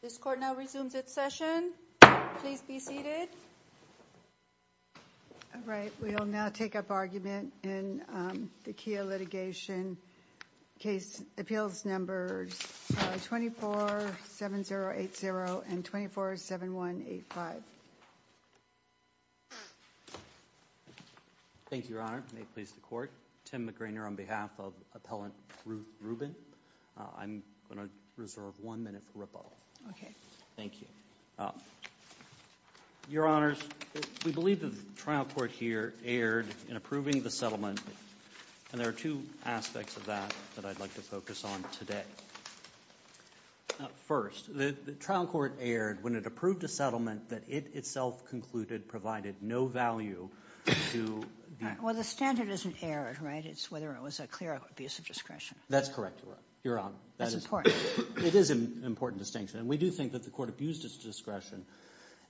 This court now resumes its session, please be seated. All right, we will now take up argument in the Kia litigation case appeals numbers 247080 and 247185. Thank you, Your Honor, may it please the court. Tim McGrainer on behalf of Appellant Ruth Rubin, I'm going to reserve one minute for Okay. Thank you. Your Honors, we believe the trial court here erred in approving the settlement and there are two aspects of that that I'd like to focus on today. First the trial court erred when it approved a settlement that it itself concluded provided no value to the… Well, the standard isn't erred, right, it's whether it was a clear abuse of discretion. That's correct, Your Honor. That's important. It is an important distinction, and we do think that the court abused its discretion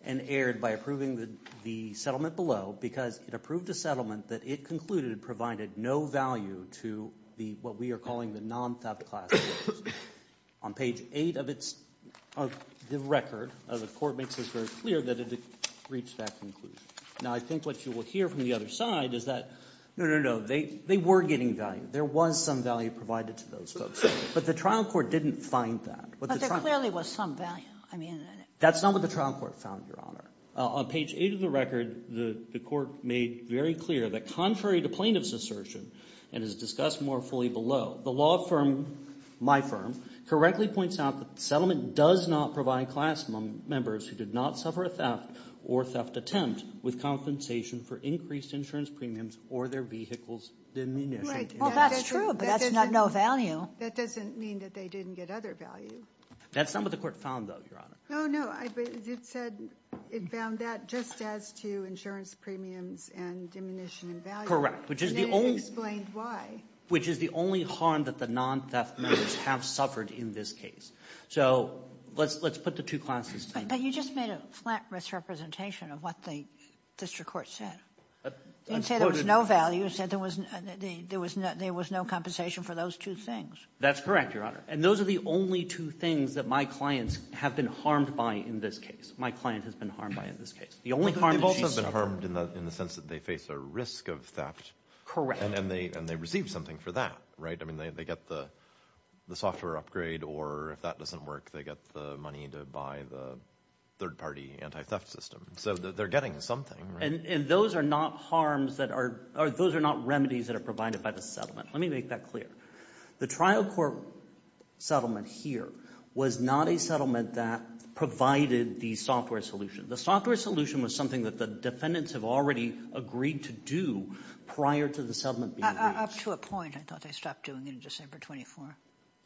and erred by approving the settlement below because it approved a settlement that it concluded provided no value to what we are calling the non-theft class. On page 8 of the record, the court makes it very clear that it reached that conclusion. Now, I think what you will hear from the other side is that, no, no, no, they were getting value. There was some value provided to those folks, but the trial court didn't find that. But there clearly was some value. That's not what the trial court found, Your Honor. On page 8 of the record, the court made very clear that contrary to plaintiff's assertion and is discussed more fully below, the law firm, my firm, correctly points out that the with compensation for increased insurance premiums or their vehicles diminished. Right. Well, that's true, but that's no value. That doesn't mean that they didn't get other value. That's not what the court found, though, Your Honor. No, no. It said it found that just as to insurance premiums and diminishing value. Correct. Which is the only one. And it explained why. Which is the only harm that the non-theft members have suffered in this case. So let's put the two classes together. But you just made a flat misrepresentation of what the district court said. It said there was no value, it said there was no compensation for those two things. That's correct, Your Honor. And those are the only two things that my clients have been harmed by in this case. My client has been harmed by in this case. The only harm that she suffered. They both have been harmed in the sense that they face a risk of theft. Correct. And they receive something for that, right? I mean, they get the software upgrade or if that doesn't work, they get the money to buy the third-party anti-theft system. So they're getting something, right? And those are not harms that are, or those are not remedies that are provided by the Let me make that clear. The trial court settlement here was not a settlement that provided the software solution. The software solution was something that the defendants have already agreed to do prior to the settlement being reached. Up to a point, I thought they stopped doing it in December 24.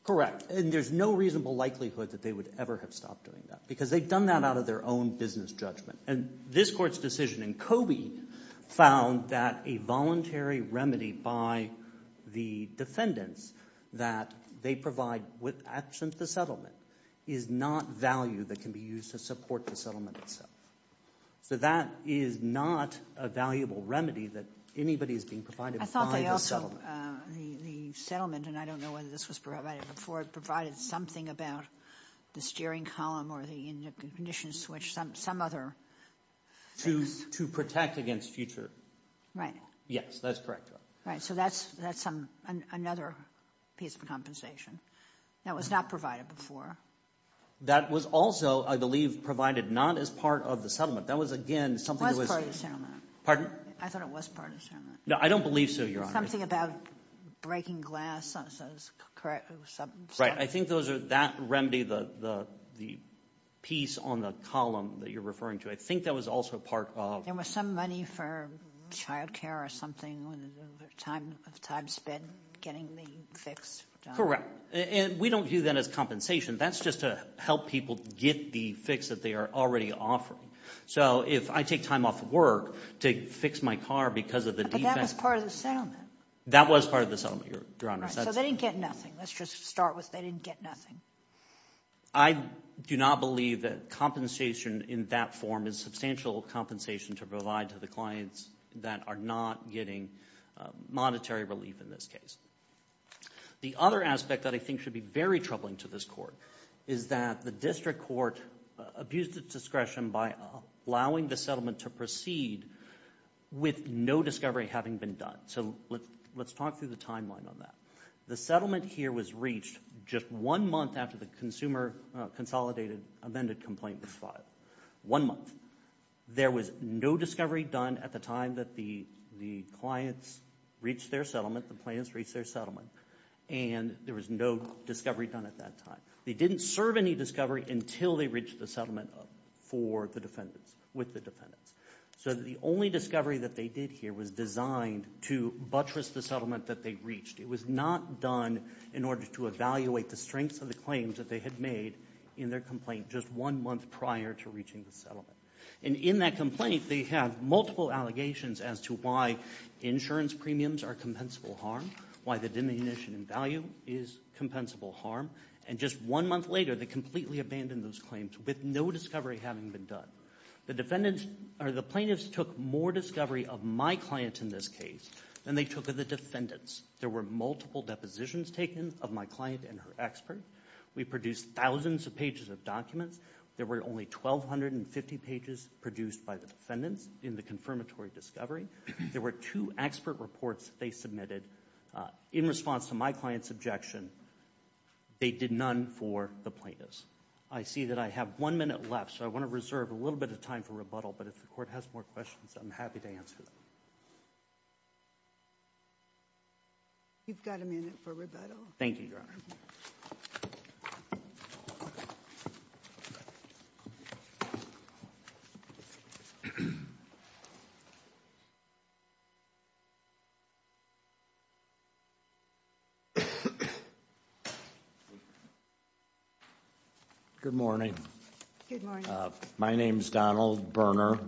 Correct. And there's no reasonable likelihood that they would ever have stopped doing that because they've done that out of their own business judgment. And this court's decision in Coby found that a voluntary remedy by the defendants that they provide with, absent the settlement, is not value that can be used to support the settlement itself. So that is not a valuable remedy that anybody is being provided by the settlement. So the settlement, and I don't know whether this was provided before, provided something about the steering column or the ignition switch, some other things. To protect against future. Right. Yes, that's correct. Right. So that's another piece of compensation that was not provided before. That was also, I believe, provided not as part of the settlement. That was, again, something that was... It was part of the settlement. Pardon? I thought it was part of the settlement. No, I don't believe so, Your Honor. It was something about breaking glass, so that's correct. Right. I think that remedy, the piece on the column that you're referring to, I think that was also part of... There was some money for child care or something, time spent getting the fix done. Correct. And we don't view that as compensation. That's just to help people get the fix that they are already offering. So if I take time off work to fix my car because of the defense... That was part of the settlement. That was part of the settlement, Your Honor. Right. So they didn't get nothing. Let's just start with they didn't get nothing. I do not believe that compensation in that form is substantial compensation to provide to the clients that are not getting monetary relief in this case. The other aspect that I think should be very troubling to this Court is that the District Court abused its discretion by allowing the settlement to proceed with no discovery having been done. So let's talk through the timeline on that. The settlement here was reached just one month after the Consumer Consolidated Amended Complaint was filed. One month. There was no discovery done at the time that the clients reached their settlement, the plaintiffs reached their settlement, and there was no discovery done at that time. They didn't serve any discovery until they reached the settlement for the defendants, with the defendants. So the only discovery that they did here was designed to buttress the settlement that they reached. It was not done in order to evaluate the strengths of the claims that they had made in their complaint just one month prior to reaching the settlement. And in that complaint, they have multiple allegations as to why insurance premiums are compensable harm, why the diminution in value is compensable harm, and just one month later they completely abandoned those claims with no discovery having been done. The plaintiffs took more discovery of my client in this case than they took of the defendants. There were multiple depositions taken of my client and her expert. We produced thousands of pages of documents. There were only 1,250 pages produced by the defendants in the confirmatory discovery. There were two expert reports they submitted in response to my client's objection. They did none for the plaintiffs. I see that I have one minute left, so I want to reserve a little bit of time for rebuttal. But if the court has more questions, I'm happy to answer them. You've got a minute for rebuttal. Thank you, Your Honor. Good morning. Good morning. My name's Donald Berner.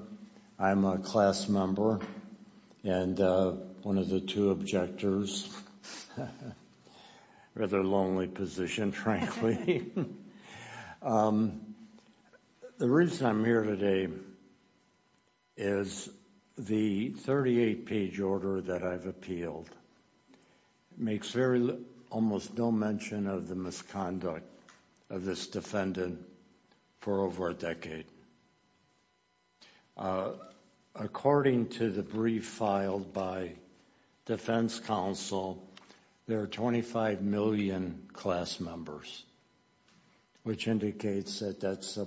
I'm a class member and one of the two objectors. Rather lonely position, frankly. The reason I'm here today is the 38 page order that I've appealed makes almost no mention of the misconduct of this defendant for over a decade. According to the brief filed by defense counsel, there are 25 million class members, which indicates that that's a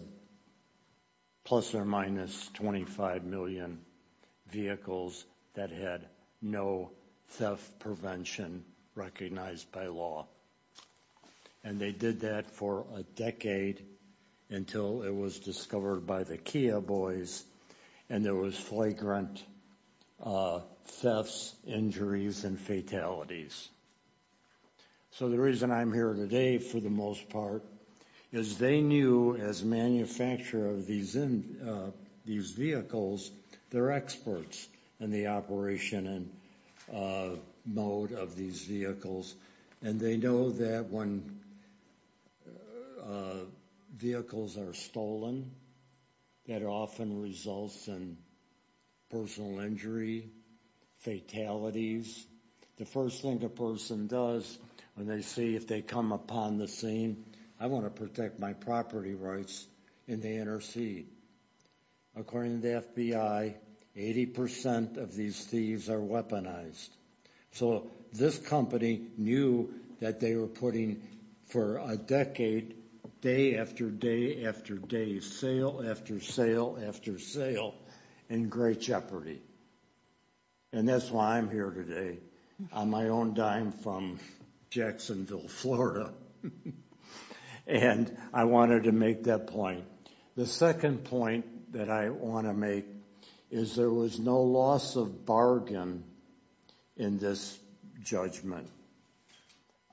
plus or minus 25 million vehicles that had no theft prevention recognized by law. And they did that for a decade until it was discovered by the Kia boys. And there was flagrant thefts, injuries, and fatalities. So the reason I'm here today, for the most part, is they knew as manufacturer of these vehicles, they're experts in the operation and mode of these vehicles. And they know that when vehicles are stolen, that often results in personal injury, fatalities. The first thing a person does when they see if they come upon the scene, I wanna protect my property rights, and they intercede. According to the FBI, 80% of these thieves are weaponized. So this company knew that they were putting, for a decade, day after day after day, sale after sale after sale, in great jeopardy. And that's why I'm here today, on my own dime from Jacksonville, Florida. And I wanted to make that point. The second point that I wanna make is there was no loss of bargain in this judgment.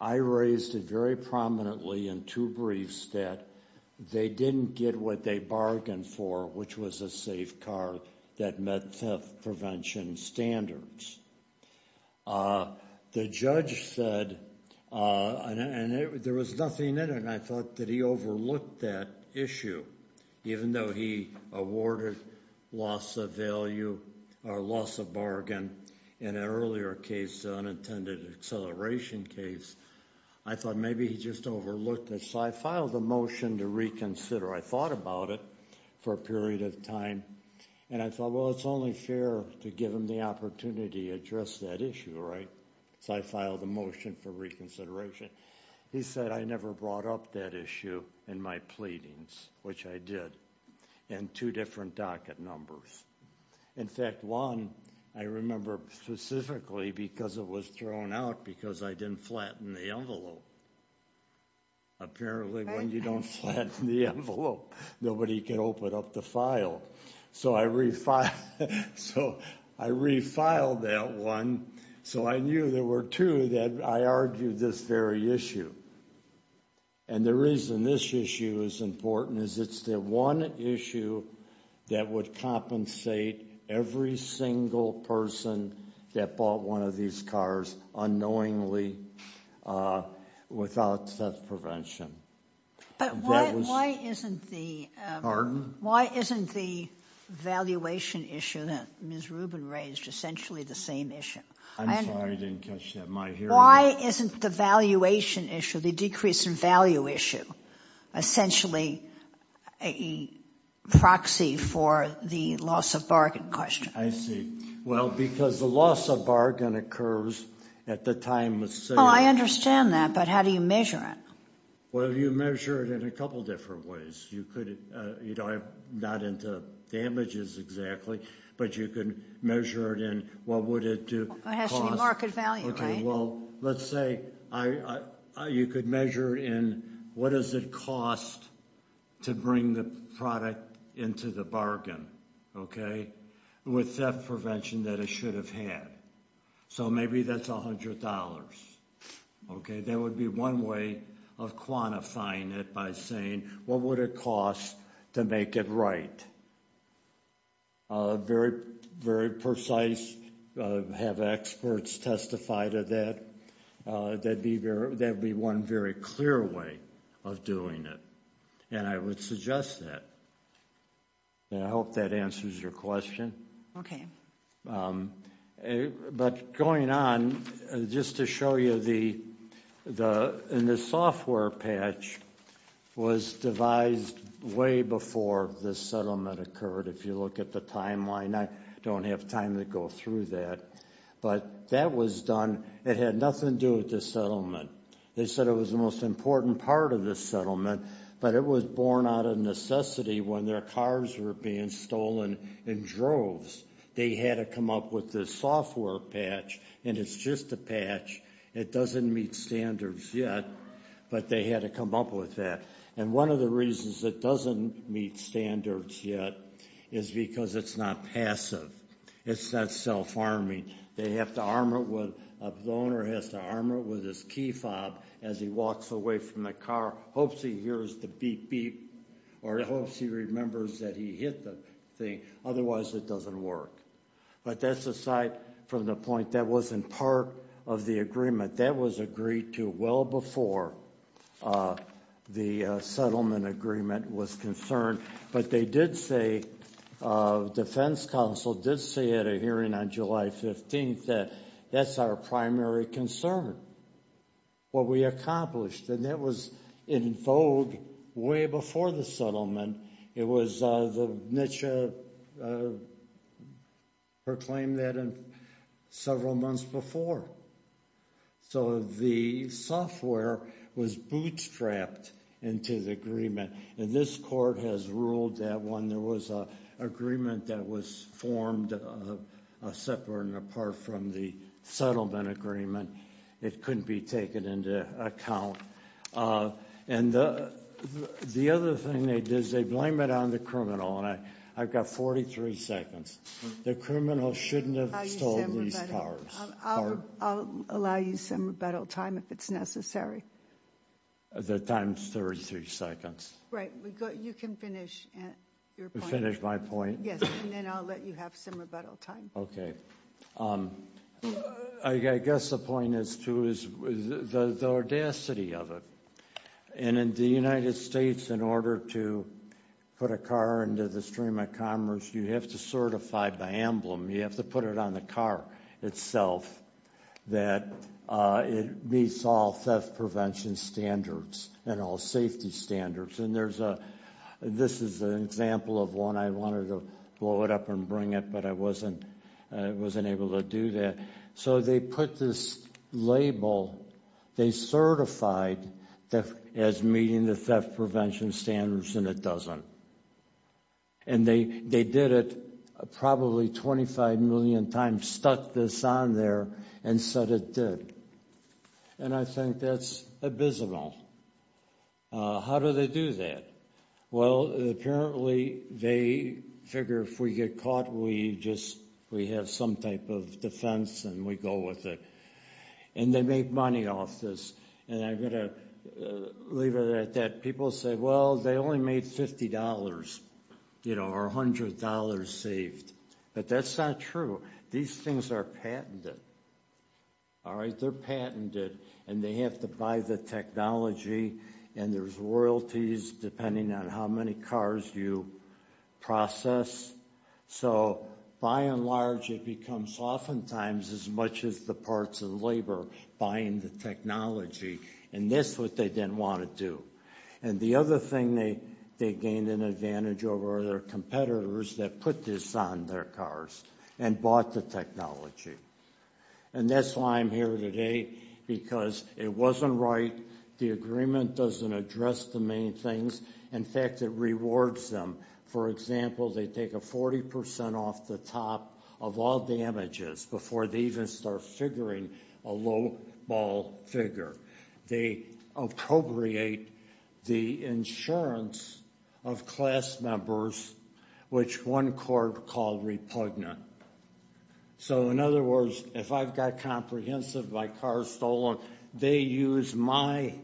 I raised it very prominently in two briefs that they didn't get what they bargained for, which was a safe car that met theft prevention standards. The judge said, and there was nothing in it, and I thought that he overlooked that issue, even though he awarded loss of value, or loss of bargain, in an earlier case, the unintended acceleration case. I thought maybe he just overlooked it, so I filed a motion to reconsider. I thought about it for a period of time, and I thought, well, it's only fair to give him the opportunity to address that issue, right? So I filed a motion for reconsideration. He said, I never brought up that issue in my pleadings, which I did, in two different docket numbers. In fact, one, I remember specifically because it was thrown out, because I didn't flatten the envelope. Apparently, when you don't flatten the envelope, nobody can open up the file. So I refiled that one, so I knew there were two that I argued this very issue. And the reason this issue is important is it's the one issue that would compensate every single person that bought one of these cars unknowingly without theft prevention. And that was- But why isn't the- Pardon? Why isn't the valuation issue that Ms. Rubin raised essentially the same issue? I'm sorry, I didn't catch that. My hearing- Why isn't the valuation issue, the decrease in value issue, essentially a proxy for the loss of bargain question? I see. Well, because the loss of bargain occurs at the time of sale. Well, I understand that, but how do you measure it? Well, you measure it in a couple different ways. You could, I'm not into damages exactly, but you could measure it in what would it do- It has to be market value, right? Okay, well, let's say you could measure in what does it cost to bring the product into the bargain, okay? With theft prevention that it should have had. So maybe that's $100, okay? That would be one way of quantifying it by saying, what would it cost to make it right? Very, very precise, have experts testify to that. That'd be one very clear way of doing it, and I would suggest that. And I hope that answers your question. Okay. But going on, just to show you the, and the software patch was devised way before this settlement occurred. If you look at the timeline, I don't have time to go through that. But that was done, it had nothing to do with the settlement. They said it was the most important part of the settlement, but it was born out of necessity when their cars were being stolen in droves. They had to come up with this software patch, and it's just a patch. It doesn't meet standards yet, but they had to come up with that. And one of the reasons it doesn't meet standards yet is because it's not passive. It's not self-arming. They have to arm it with, the owner has to arm it with his key fob as he walks away from the car, hopes he hears the beep beep, or hopes he remembers that he hit the thing, otherwise it doesn't work. But that's aside from the point that wasn't part of the agreement. That was agreed to well before the settlement agreement was concerned. But they did say, Defense Council did say at a hearing on July 15th that that's our primary concern, what we accomplished. And that was in vogue way before the settlement. It was the NCHA proclaimed that several months before. So the software was bootstrapped into the agreement. And this court has ruled that when there was a agreement that was formed separate and apart from the settlement agreement, it couldn't be taken into account. And the other thing they did is they blame it on the criminal. And I've got 43 seconds. The criminal shouldn't have stolen these cars. I'll allow you some rebuttal time if it's necessary. The time's 33 seconds. Right, you can finish your point. Finish my point? Yes, and then I'll let you have some rebuttal time. Okay. I guess the point is too is the audacity of it. And in the United States, in order to put a car into the stream of commerce, you have to certify the emblem, you have to put it on the car itself. That it meets all theft prevention standards and all safety standards. And there's a, this is an example of one I wanted to blow it up and I wasn't able to do that. So they put this label. They certified as meeting the theft prevention standards and it doesn't. And they did it probably 25 million times, stuck this on there and said it did. And I think that's abysmal. How do they do that? Well, apparently they figure if we get caught we just, we have some type of defense and we go with it. And they make money off this. And I'm gonna leave it at that. People say, well, they only made $50, or $100 saved. But that's not true. These things are patented, all right? They're patented, and they have to buy the technology. And there's royalties depending on how many cars you process. So by and large, it becomes oftentimes as much as the parts of labor buying the technology, and that's what they didn't want to do. And the other thing they gained an advantage over are their competitors that put this on their cars and bought the technology. And that's why I'm here today, because it wasn't right. The agreement doesn't address the main things. In fact, it rewards them. For example, they take a 40% off the top of all damages before they even start figuring a low ball figure. They appropriate the insurance of class members, which one court called repugnant. So in other words, if I've got comprehensive, my car's stolen, they use my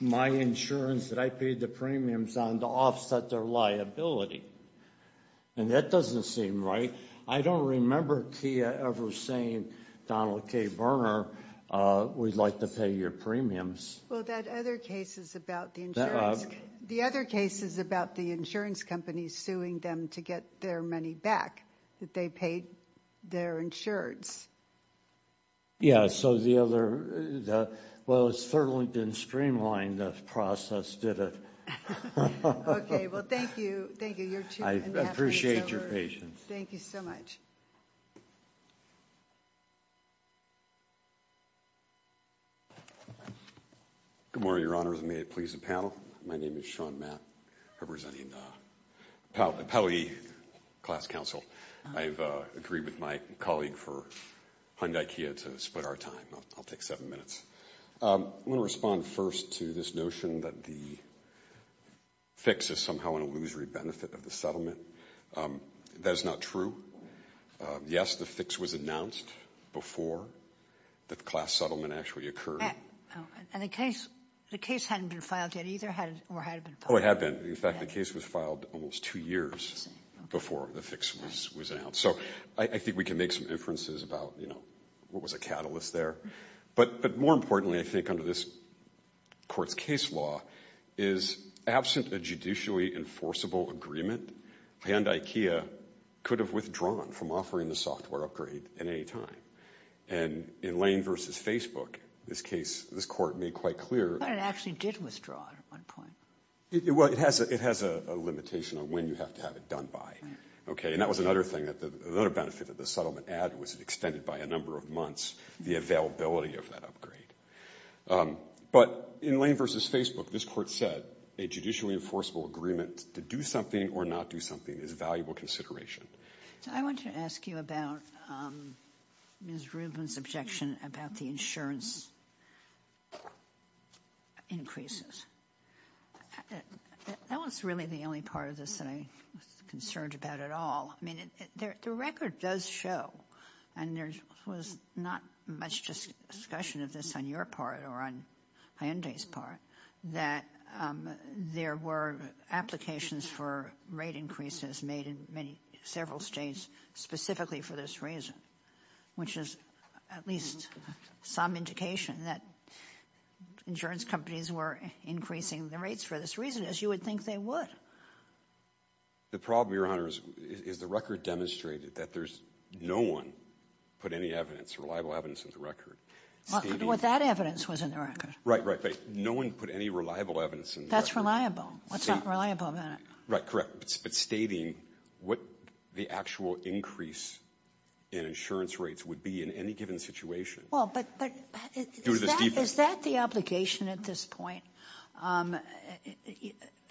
insurance that I paid the premiums on to offset their liability. And that doesn't seem right. I don't remember Kia ever saying, Donald K. Berner, we'd like to pay your premiums. Well, that other case is about the insurance. The other case is about the insurance company suing them to get their money back, that they paid their insurance. Yeah, so the other, well, it's certainly been streamlined, the process did it. Okay, well, thank you. I appreciate your patience. Thank you so much. Good morning, Your Honors. May it please the panel. My name is Sean Mapp, representing the Pauley Class Council. I've agreed with my colleague for Hyundai Kia to split our time. I'll take seven minutes. I'm gonna respond first to this notion that the fix is somehow an illusory benefit of the settlement, that is not true. Yes, the fix was announced before the class settlement actually occurred. And the case hadn't been filed yet either, or had it been filed? It had been. In fact, the case was filed almost two years before the fix was announced. So I think we can make some inferences about, you know, what was a catalyst there. But more importantly, I think under this court's case law, is absent a judicially enforceable agreement, Hyundai Kia could have withdrawn from offering the software upgrade at any time. And in Lane versus Facebook, this case, this court made quite clear. But it actually did withdraw at one point. Well, it has a limitation on when you have to have it done by. Okay, and that was another thing, another benefit of the settlement ad was it extended by a number of months, the availability of that upgrade. But in Lane versus Facebook, this court said a judicially enforceable agreement to do something or not do something is valuable consideration. So I want to ask you about Ms. Rubin's objection about the insurance increases. That was really the only part of this that I was concerned about at all. I mean, the record does show, and there was not much discussion of this on your part or on Hyundai's part, that there were applications for rate increases made in several states specifically for this reason. Which is at least some indication that insurance companies were increasing the rates for this reason, as you would think they would. The problem, Your Honor, is the record demonstrated that there's no one put any evidence, reliable evidence in the record. What that evidence was in the record. Right, right, but no one put any reliable evidence in the record. That's reliable. What's not reliable about it? Right, correct. But stating what the actual increase in insurance rates would be in any given situation. Well, but is that the obligation at this point?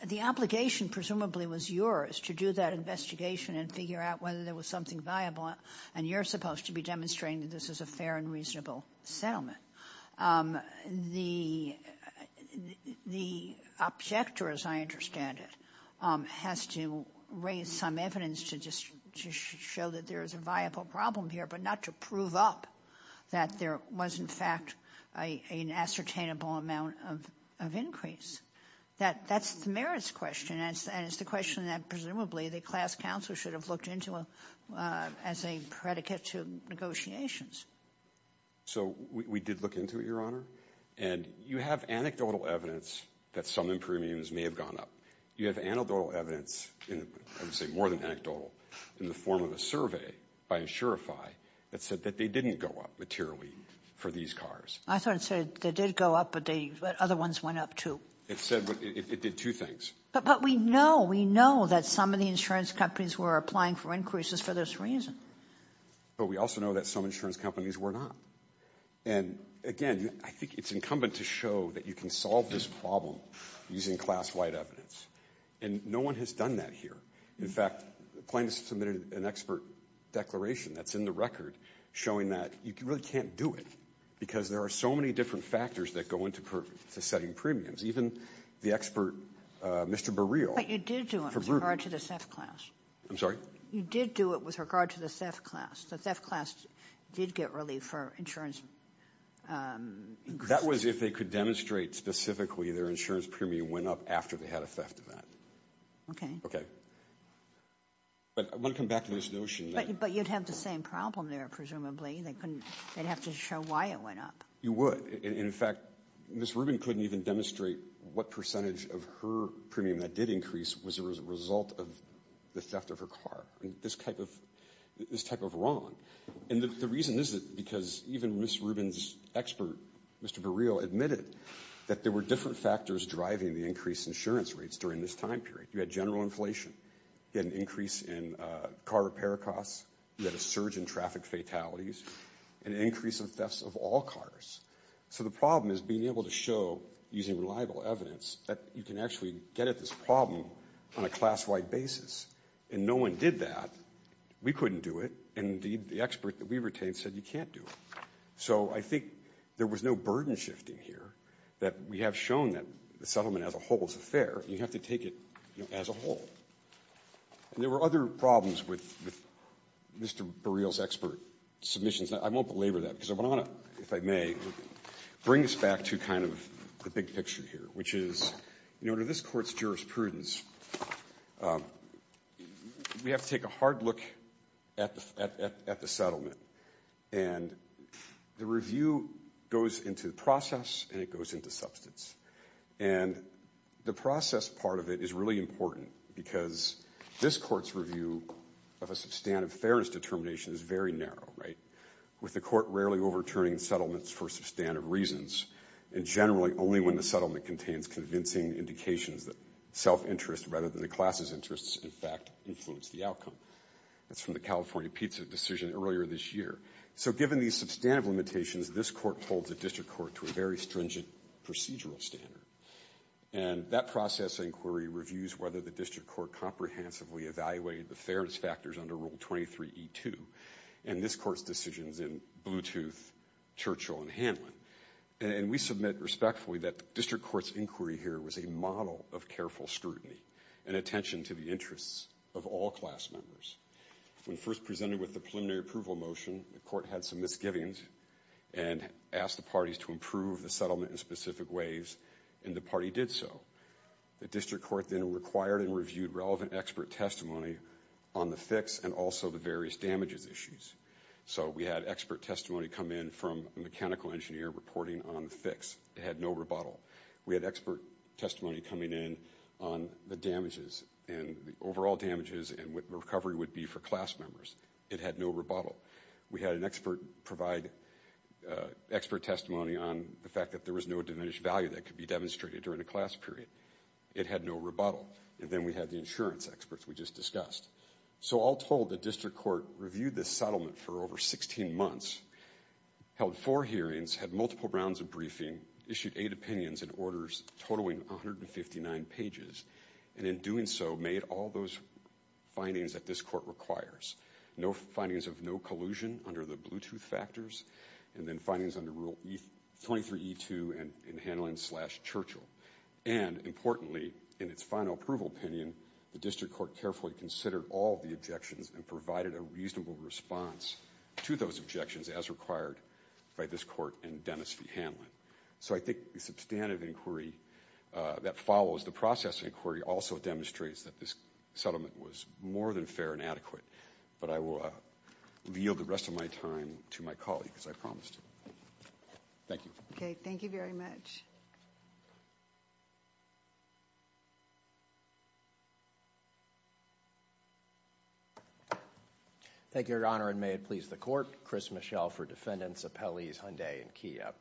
The obligation, presumably, was yours to do that investigation and figure out whether there was something viable. And you're supposed to be demonstrating that this is a fair and reasonable settlement. The objector, as I understand it, has to raise some evidence to just show that there's a viable problem here. But not to prove up that there was, in fact, an ascertainable amount of increase. That's the merits question, and it's the question that, presumably, the class counsel should have looked into as a predicate to negotiations. So we did look into it, Your Honor, and you have anecdotal evidence that some premiums may have gone up. You have anecdotal evidence, I would say more than anecdotal, in the form of a survey by Insurify that said that they didn't go up materially for these cars. I thought it said they did go up, but other ones went up too. It said, it did two things. But we know, we know that some of the insurance companies were applying for increases for this reason. But we also know that some insurance companies were not. And, again, I think it's incumbent to show that you can solve this problem using class-wide evidence. And no one has done that here. In fact, Plaintiff's submitted an expert declaration that's in the record showing that you really can't do it because there are so many different factors that go into setting premiums. Even the expert, Mr. Burreel. But you did do it with regard to the SEF class. I'm sorry? You did do it with regard to the SEF class. The SEF class did get relief for insurance increases. That was if they could demonstrate specifically their insurance premium went up after they had a theft event. Okay. Okay. But I want to come back to this notion. But you'd have the same problem there, presumably. They couldn't, they'd have to show why it went up. You would. In fact, Ms. Rubin couldn't even demonstrate what percentage of her premium that did increase was a result of the theft of her car. This type of wrong. And the reason is because even Ms. Rubin's expert, Mr. Burreel, admitted that there were different factors driving the increased insurance rates during this time period. You had general inflation. You had an increase in car repair costs. You had a surge in traffic fatalities. An increase in thefts of all cars. So the problem is being able to show, using reliable evidence, that you can actually get at this problem on a class-wide basis. And no one did that. We couldn't do it. And indeed, the expert that we retained said you can't do it. So I think there was no burden shifting here. That we have shown that the settlement as a whole is fair. You have to take it as a whole. And there were other problems with Mr. Burreel's expert submissions. I won't belabor that because I want to, if I may, bring us back to kind of the big picture here. Which is, in order this court's jurisprudence, we have to take a hard look at the settlement. And the review goes into the process and it goes into substance. And the process part of it is really important because this court's review of a substantive fairness determination is very narrow, right? With the court rarely overturning settlements for substantive reasons. And generally, only when the settlement contains convincing indications that self-interest rather than the class's interests, in fact, influence the outcome. That's from the California pizza decision earlier this year. So given these substantive limitations, this court holds a district court to a very stringent procedural standard. And that process inquiry reviews whether the district court comprehensively evaluated the fairness factors under Rule 23E2. And this court's decisions in Bluetooth, Churchill, and Hanlon. And we submit respectfully that district court's inquiry here was a model of careful scrutiny and attention to the interests of all class members. When first presented with the preliminary approval motion, the court had some misgivings and asked the parties to improve the settlement in specific ways. And the party did so. The district court then required and reviewed relevant expert testimony on the fix and also the various damages issues. So we had expert testimony come in from a mechanical engineer reporting on the fix. It had no rebuttal. We had expert testimony coming in on the damages and the overall damages and what recovery would be for class members. It had no rebuttal. We had an expert provide expert testimony on the fact that there was no diminished value that could be demonstrated during the class period. It had no rebuttal. And then we had the insurance experts we just discussed. So all told, the district court reviewed this settlement for over 16 months, held four hearings, had multiple rounds of briefing, issued eight opinions and orders totaling 159 pages, and in doing so made all those findings that this court requires. No findings of no collusion under the Bluetooth factors and then findings under Rule 23E2 and Hanlon slash Churchill. And importantly, in its final approval opinion, the district court carefully considered all the objections and provided a reasonable response to those objections as required by this court and Dennis v. Hanlon. So I think the substantive inquiry that follows the process inquiry also demonstrates that this settlement was more than fair and adequate. But I will yield the rest of my time to my colleague as I promised. Thank you. Okay, thank you very much. Thank you, Your Honor, and may it please the court. Chris Mischel for Defendants Appellees Hyundai and Kia.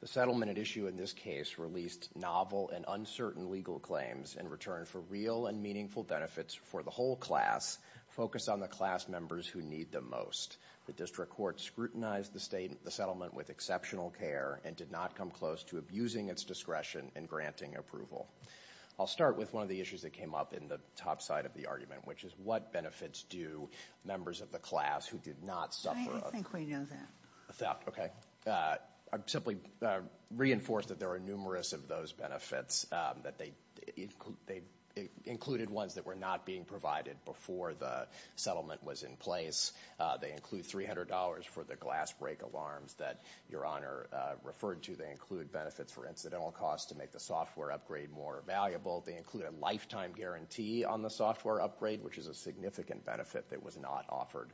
The settlement at issue in this case released novel and uncertain legal claims in return for real and meaningful benefits for the whole class focused on the class members who need them most. The district court scrutinized the settlement with exceptional care and did not come close to abusing its discretion and granting approval. I'll start with one of the issues that came up in the settlement. The top side of the argument, which is what benefits do members of the class who did not suffer a theft. Okay, I'm simply reinforced that there are numerous of those benefits that they included ones that were not being provided before the settlement was in place. They include $300 for the glass break alarms that Your Honor referred to. They include benefits for incidental costs to make the software upgrade more valuable. They include a lifetime guarantee on the software upgrade, which is a significant benefit that was not offered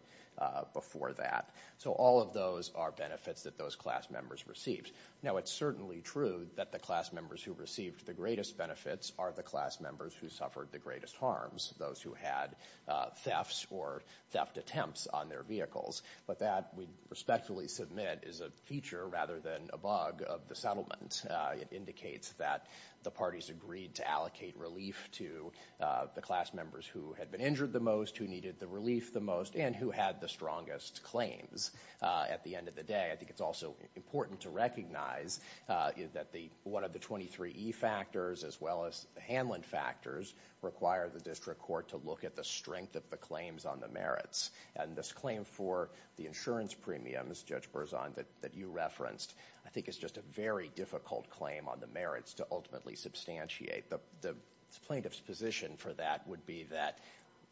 before that. So all of those are benefits that those class members received. Now, it's certainly true that the class members who received the greatest benefits are the class members who suffered the greatest harms, those who had thefts or theft attempts on their vehicles. But that we respectfully submit is a feature rather than a bug of the settlement. It indicates that the parties agreed to allocate relief to the class members who had been injured the most, who needed the relief the most, and who had the strongest claims at the end of the day. I think it's also important to recognize that one of the 23E factors, as well as the Hanlon factors, require the district court to look at the strength of the claims on the merits. And this claim for the insurance premiums, Judge Berzon, that you referenced, I think is just a very difficult claim on the merits to ultimately substantiate. The plaintiff's position for that would be that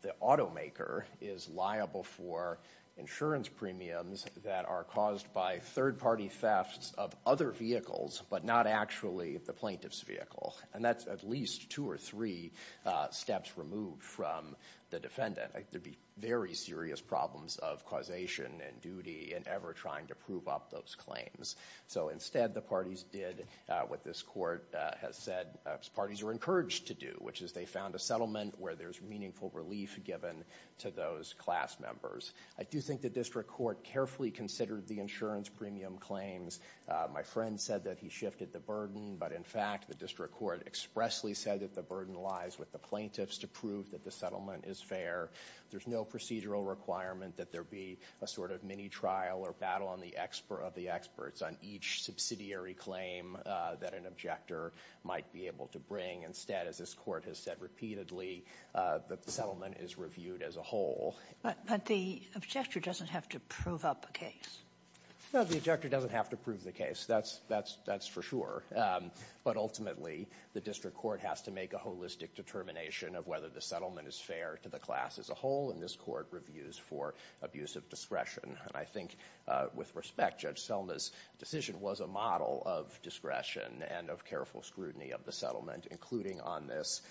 the automaker is liable for insurance premiums that are caused by third-party thefts of other vehicles, but not actually the plaintiff's vehicle. And that's at least two or three steps removed from the defendant. There'd be very serious problems of causation and duty in ever trying to prove up those claims. So instead, the parties did what this court has said parties are encouraged to do, which is they found a settlement where there's meaningful relief given to those class members. I do think the district court carefully considered the insurance premium claims. My friend said that he shifted the burden. But in fact, the district court expressly said that the burden lies with the plaintiffs to prove that the settlement is fair. There's no procedural requirement that there be a sort of mini-trial or battle of the experts on each subsidiary claim that an objector might be able to bring. Instead, as this court has said repeatedly, the settlement is reviewed as a whole. But the objector doesn't have to prove up a case. No, the objector doesn't have to prove the case. That's for sure. But ultimately, the district court has to make a holistic determination of whether the settlement is fair to the class as a whole. And this court reviews for abuse of discretion. And I think with respect, Judge Selma's decision was a model of discretion and of careful scrutiny of the settlement, including on this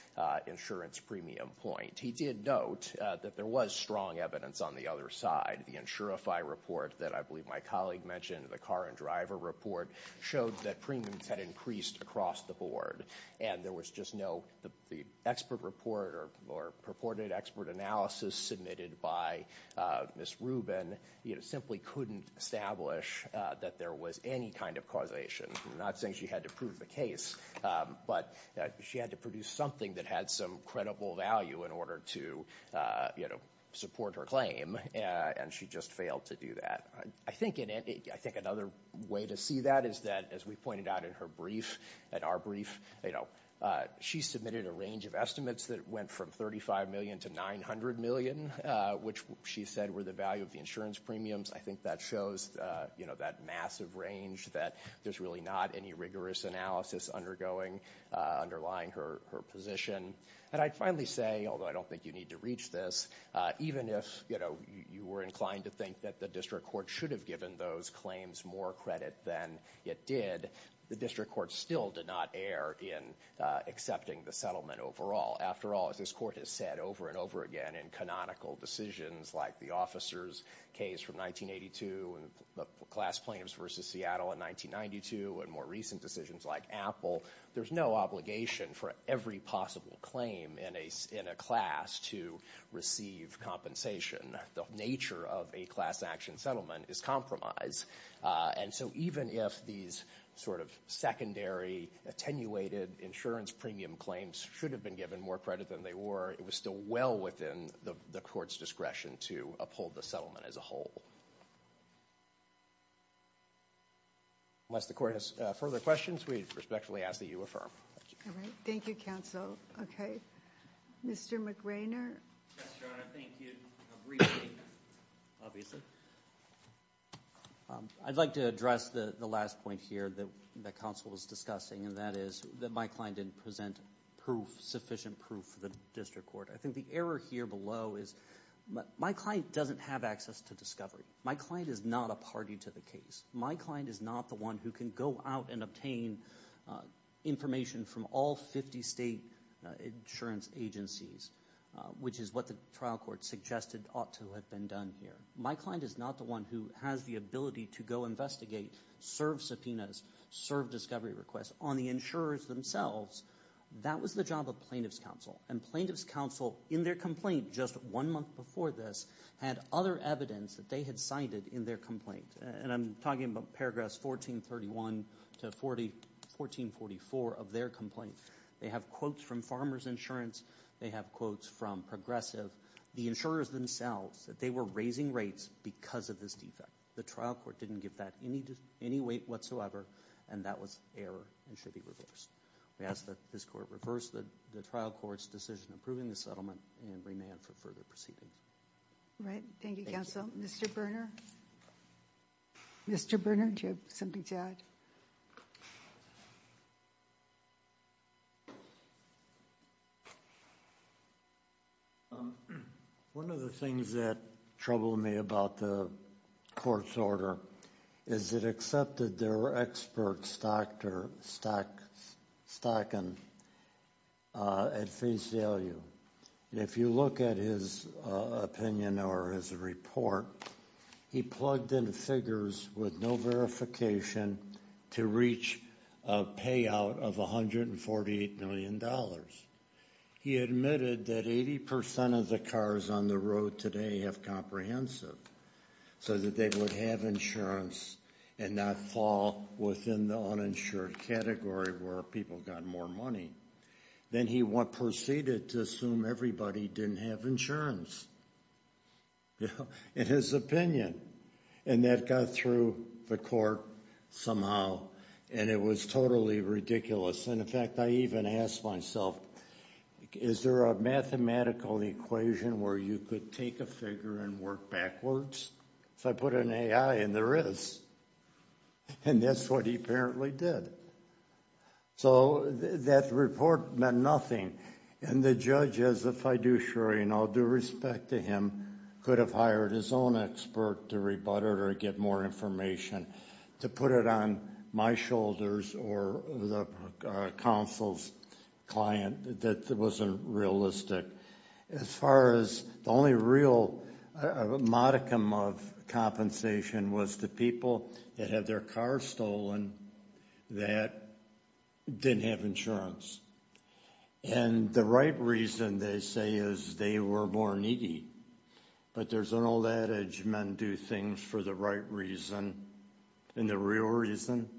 insurance premium point. He did note that there was strong evidence on the other side. The Insurify report that I believe my colleague mentioned, the car and driver report, showed that premiums had increased across the board. And there was just no, the expert report or purported expert analysis submitted by Ms. Rubin, you know, simply couldn't establish that there was any kind of causation. I'm not saying she had to prove the case. But she had to produce something that had some credible value in order to, you know, support her claim. And she just failed to do that. I think another way to see that is that, as we pointed out in her brief, in our brief, you know, she submitted a range of estimates that went from $35 million to $900 million, which she said were the value of the insurance premiums. I think that shows, you know, that massive range that there's really not any rigorous analysis undergoing, underlying her position. And I'd finally say, although I don't think you need to reach this, even if, you know, you were inclined to think that the district court should have given those claims more credit than it did, the district court still did not err in accepting the settlement overall. After all, as this court has said over and over again, in canonical decisions like the officer's case from 1982, and the class plaintiffs versus Seattle in 1992, and more recent decisions like Apple, there's no obligation for every possible claim in a class to receive compensation. The nature of a class action settlement is compromise. And so even if these sort of secondary, attenuated insurance premium claims should have been given more credit than they were, it was still well within the court's discretion to uphold the settlement as a whole. Unless the court has further questions, we respectfully ask that you affirm. All right. Thank you, counsel. Okay. Mr. McRainer? Yes, Your Honor. Thank you. I'd like to address the last point here that counsel was discussing, and that is that my client didn't present sufficient proof for the district court. I think the error here below is my client doesn't have access to discovery. My client is not a party to the case. My client is not the one who can go out and obtain information from all 50 state insurance agencies, which is what the trial court suggested ought to have been done here. My client is not the one who has the ability to go investigate, serve subpoenas, serve discovery requests on the insurers themselves. That was the job of plaintiff's counsel. And plaintiff's counsel, in their complaint just one month before this, had other evidence that they had cited in their complaint. And I'm talking about paragraphs 1431 to 1444 of their complaint. They have quotes from farmers insurance. They have quotes from progressive, the insurers themselves, that they were raising rates because of this defect. The trial court didn't give that any weight whatsoever, and that was error and should be reversed. We ask that this court reverse the trial court's decision approving the settlement and remand for further proceedings. All right. Thank you, counsel. Mr. Berner? Mr. Berner, did you have something to add? One of the things that troubled me about the court's order is it accepted their expert stocking at Faisalio. And if you look at his opinion or his report, he plugged in figures with no verification to reach a payout of $148 million. He admitted that 80% of the cars on the road today have comprehensive so that they would have insurance and not fall within the uninsured category where people got more money. Then he proceeded to assume everybody didn't have insurance in his opinion. And that got through the court somehow, and it was totally ridiculous. And in fact, I even asked myself, is there a mathematical equation where you could take a figure and work backwards? So I put in AI, and there is. And that's what he apparently did. So that report meant nothing. And the judge, as a fiduciary, and I'll do respect to him, could have hired his own expert to rebut it or get more information to put it on my shoulders or the counsel's client that wasn't realistic. As far as the only real modicum of compensation was the people that had their car stolen that didn't have insurance. And the right reason, they say, is they were more needy. But there's an old adage, men do things for the right reason. And the real reason,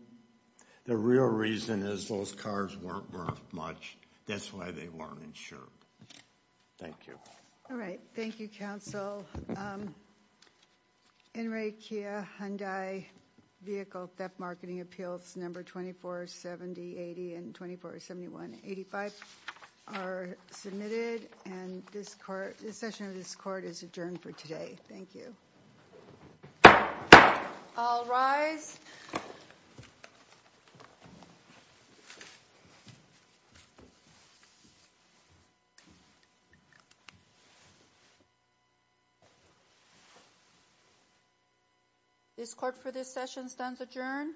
the real reason is those cars weren't worth much. That's why they weren't insured. Thank you. All right. Thank you, counsel. In re Kia Hyundai vehicle theft marketing appeals, number 24, 70, 80 and 24, 71, 85 are submitted. And this court, this session of this court is adjourned for today. Thank you. All rise. This court for this session stands adjourned.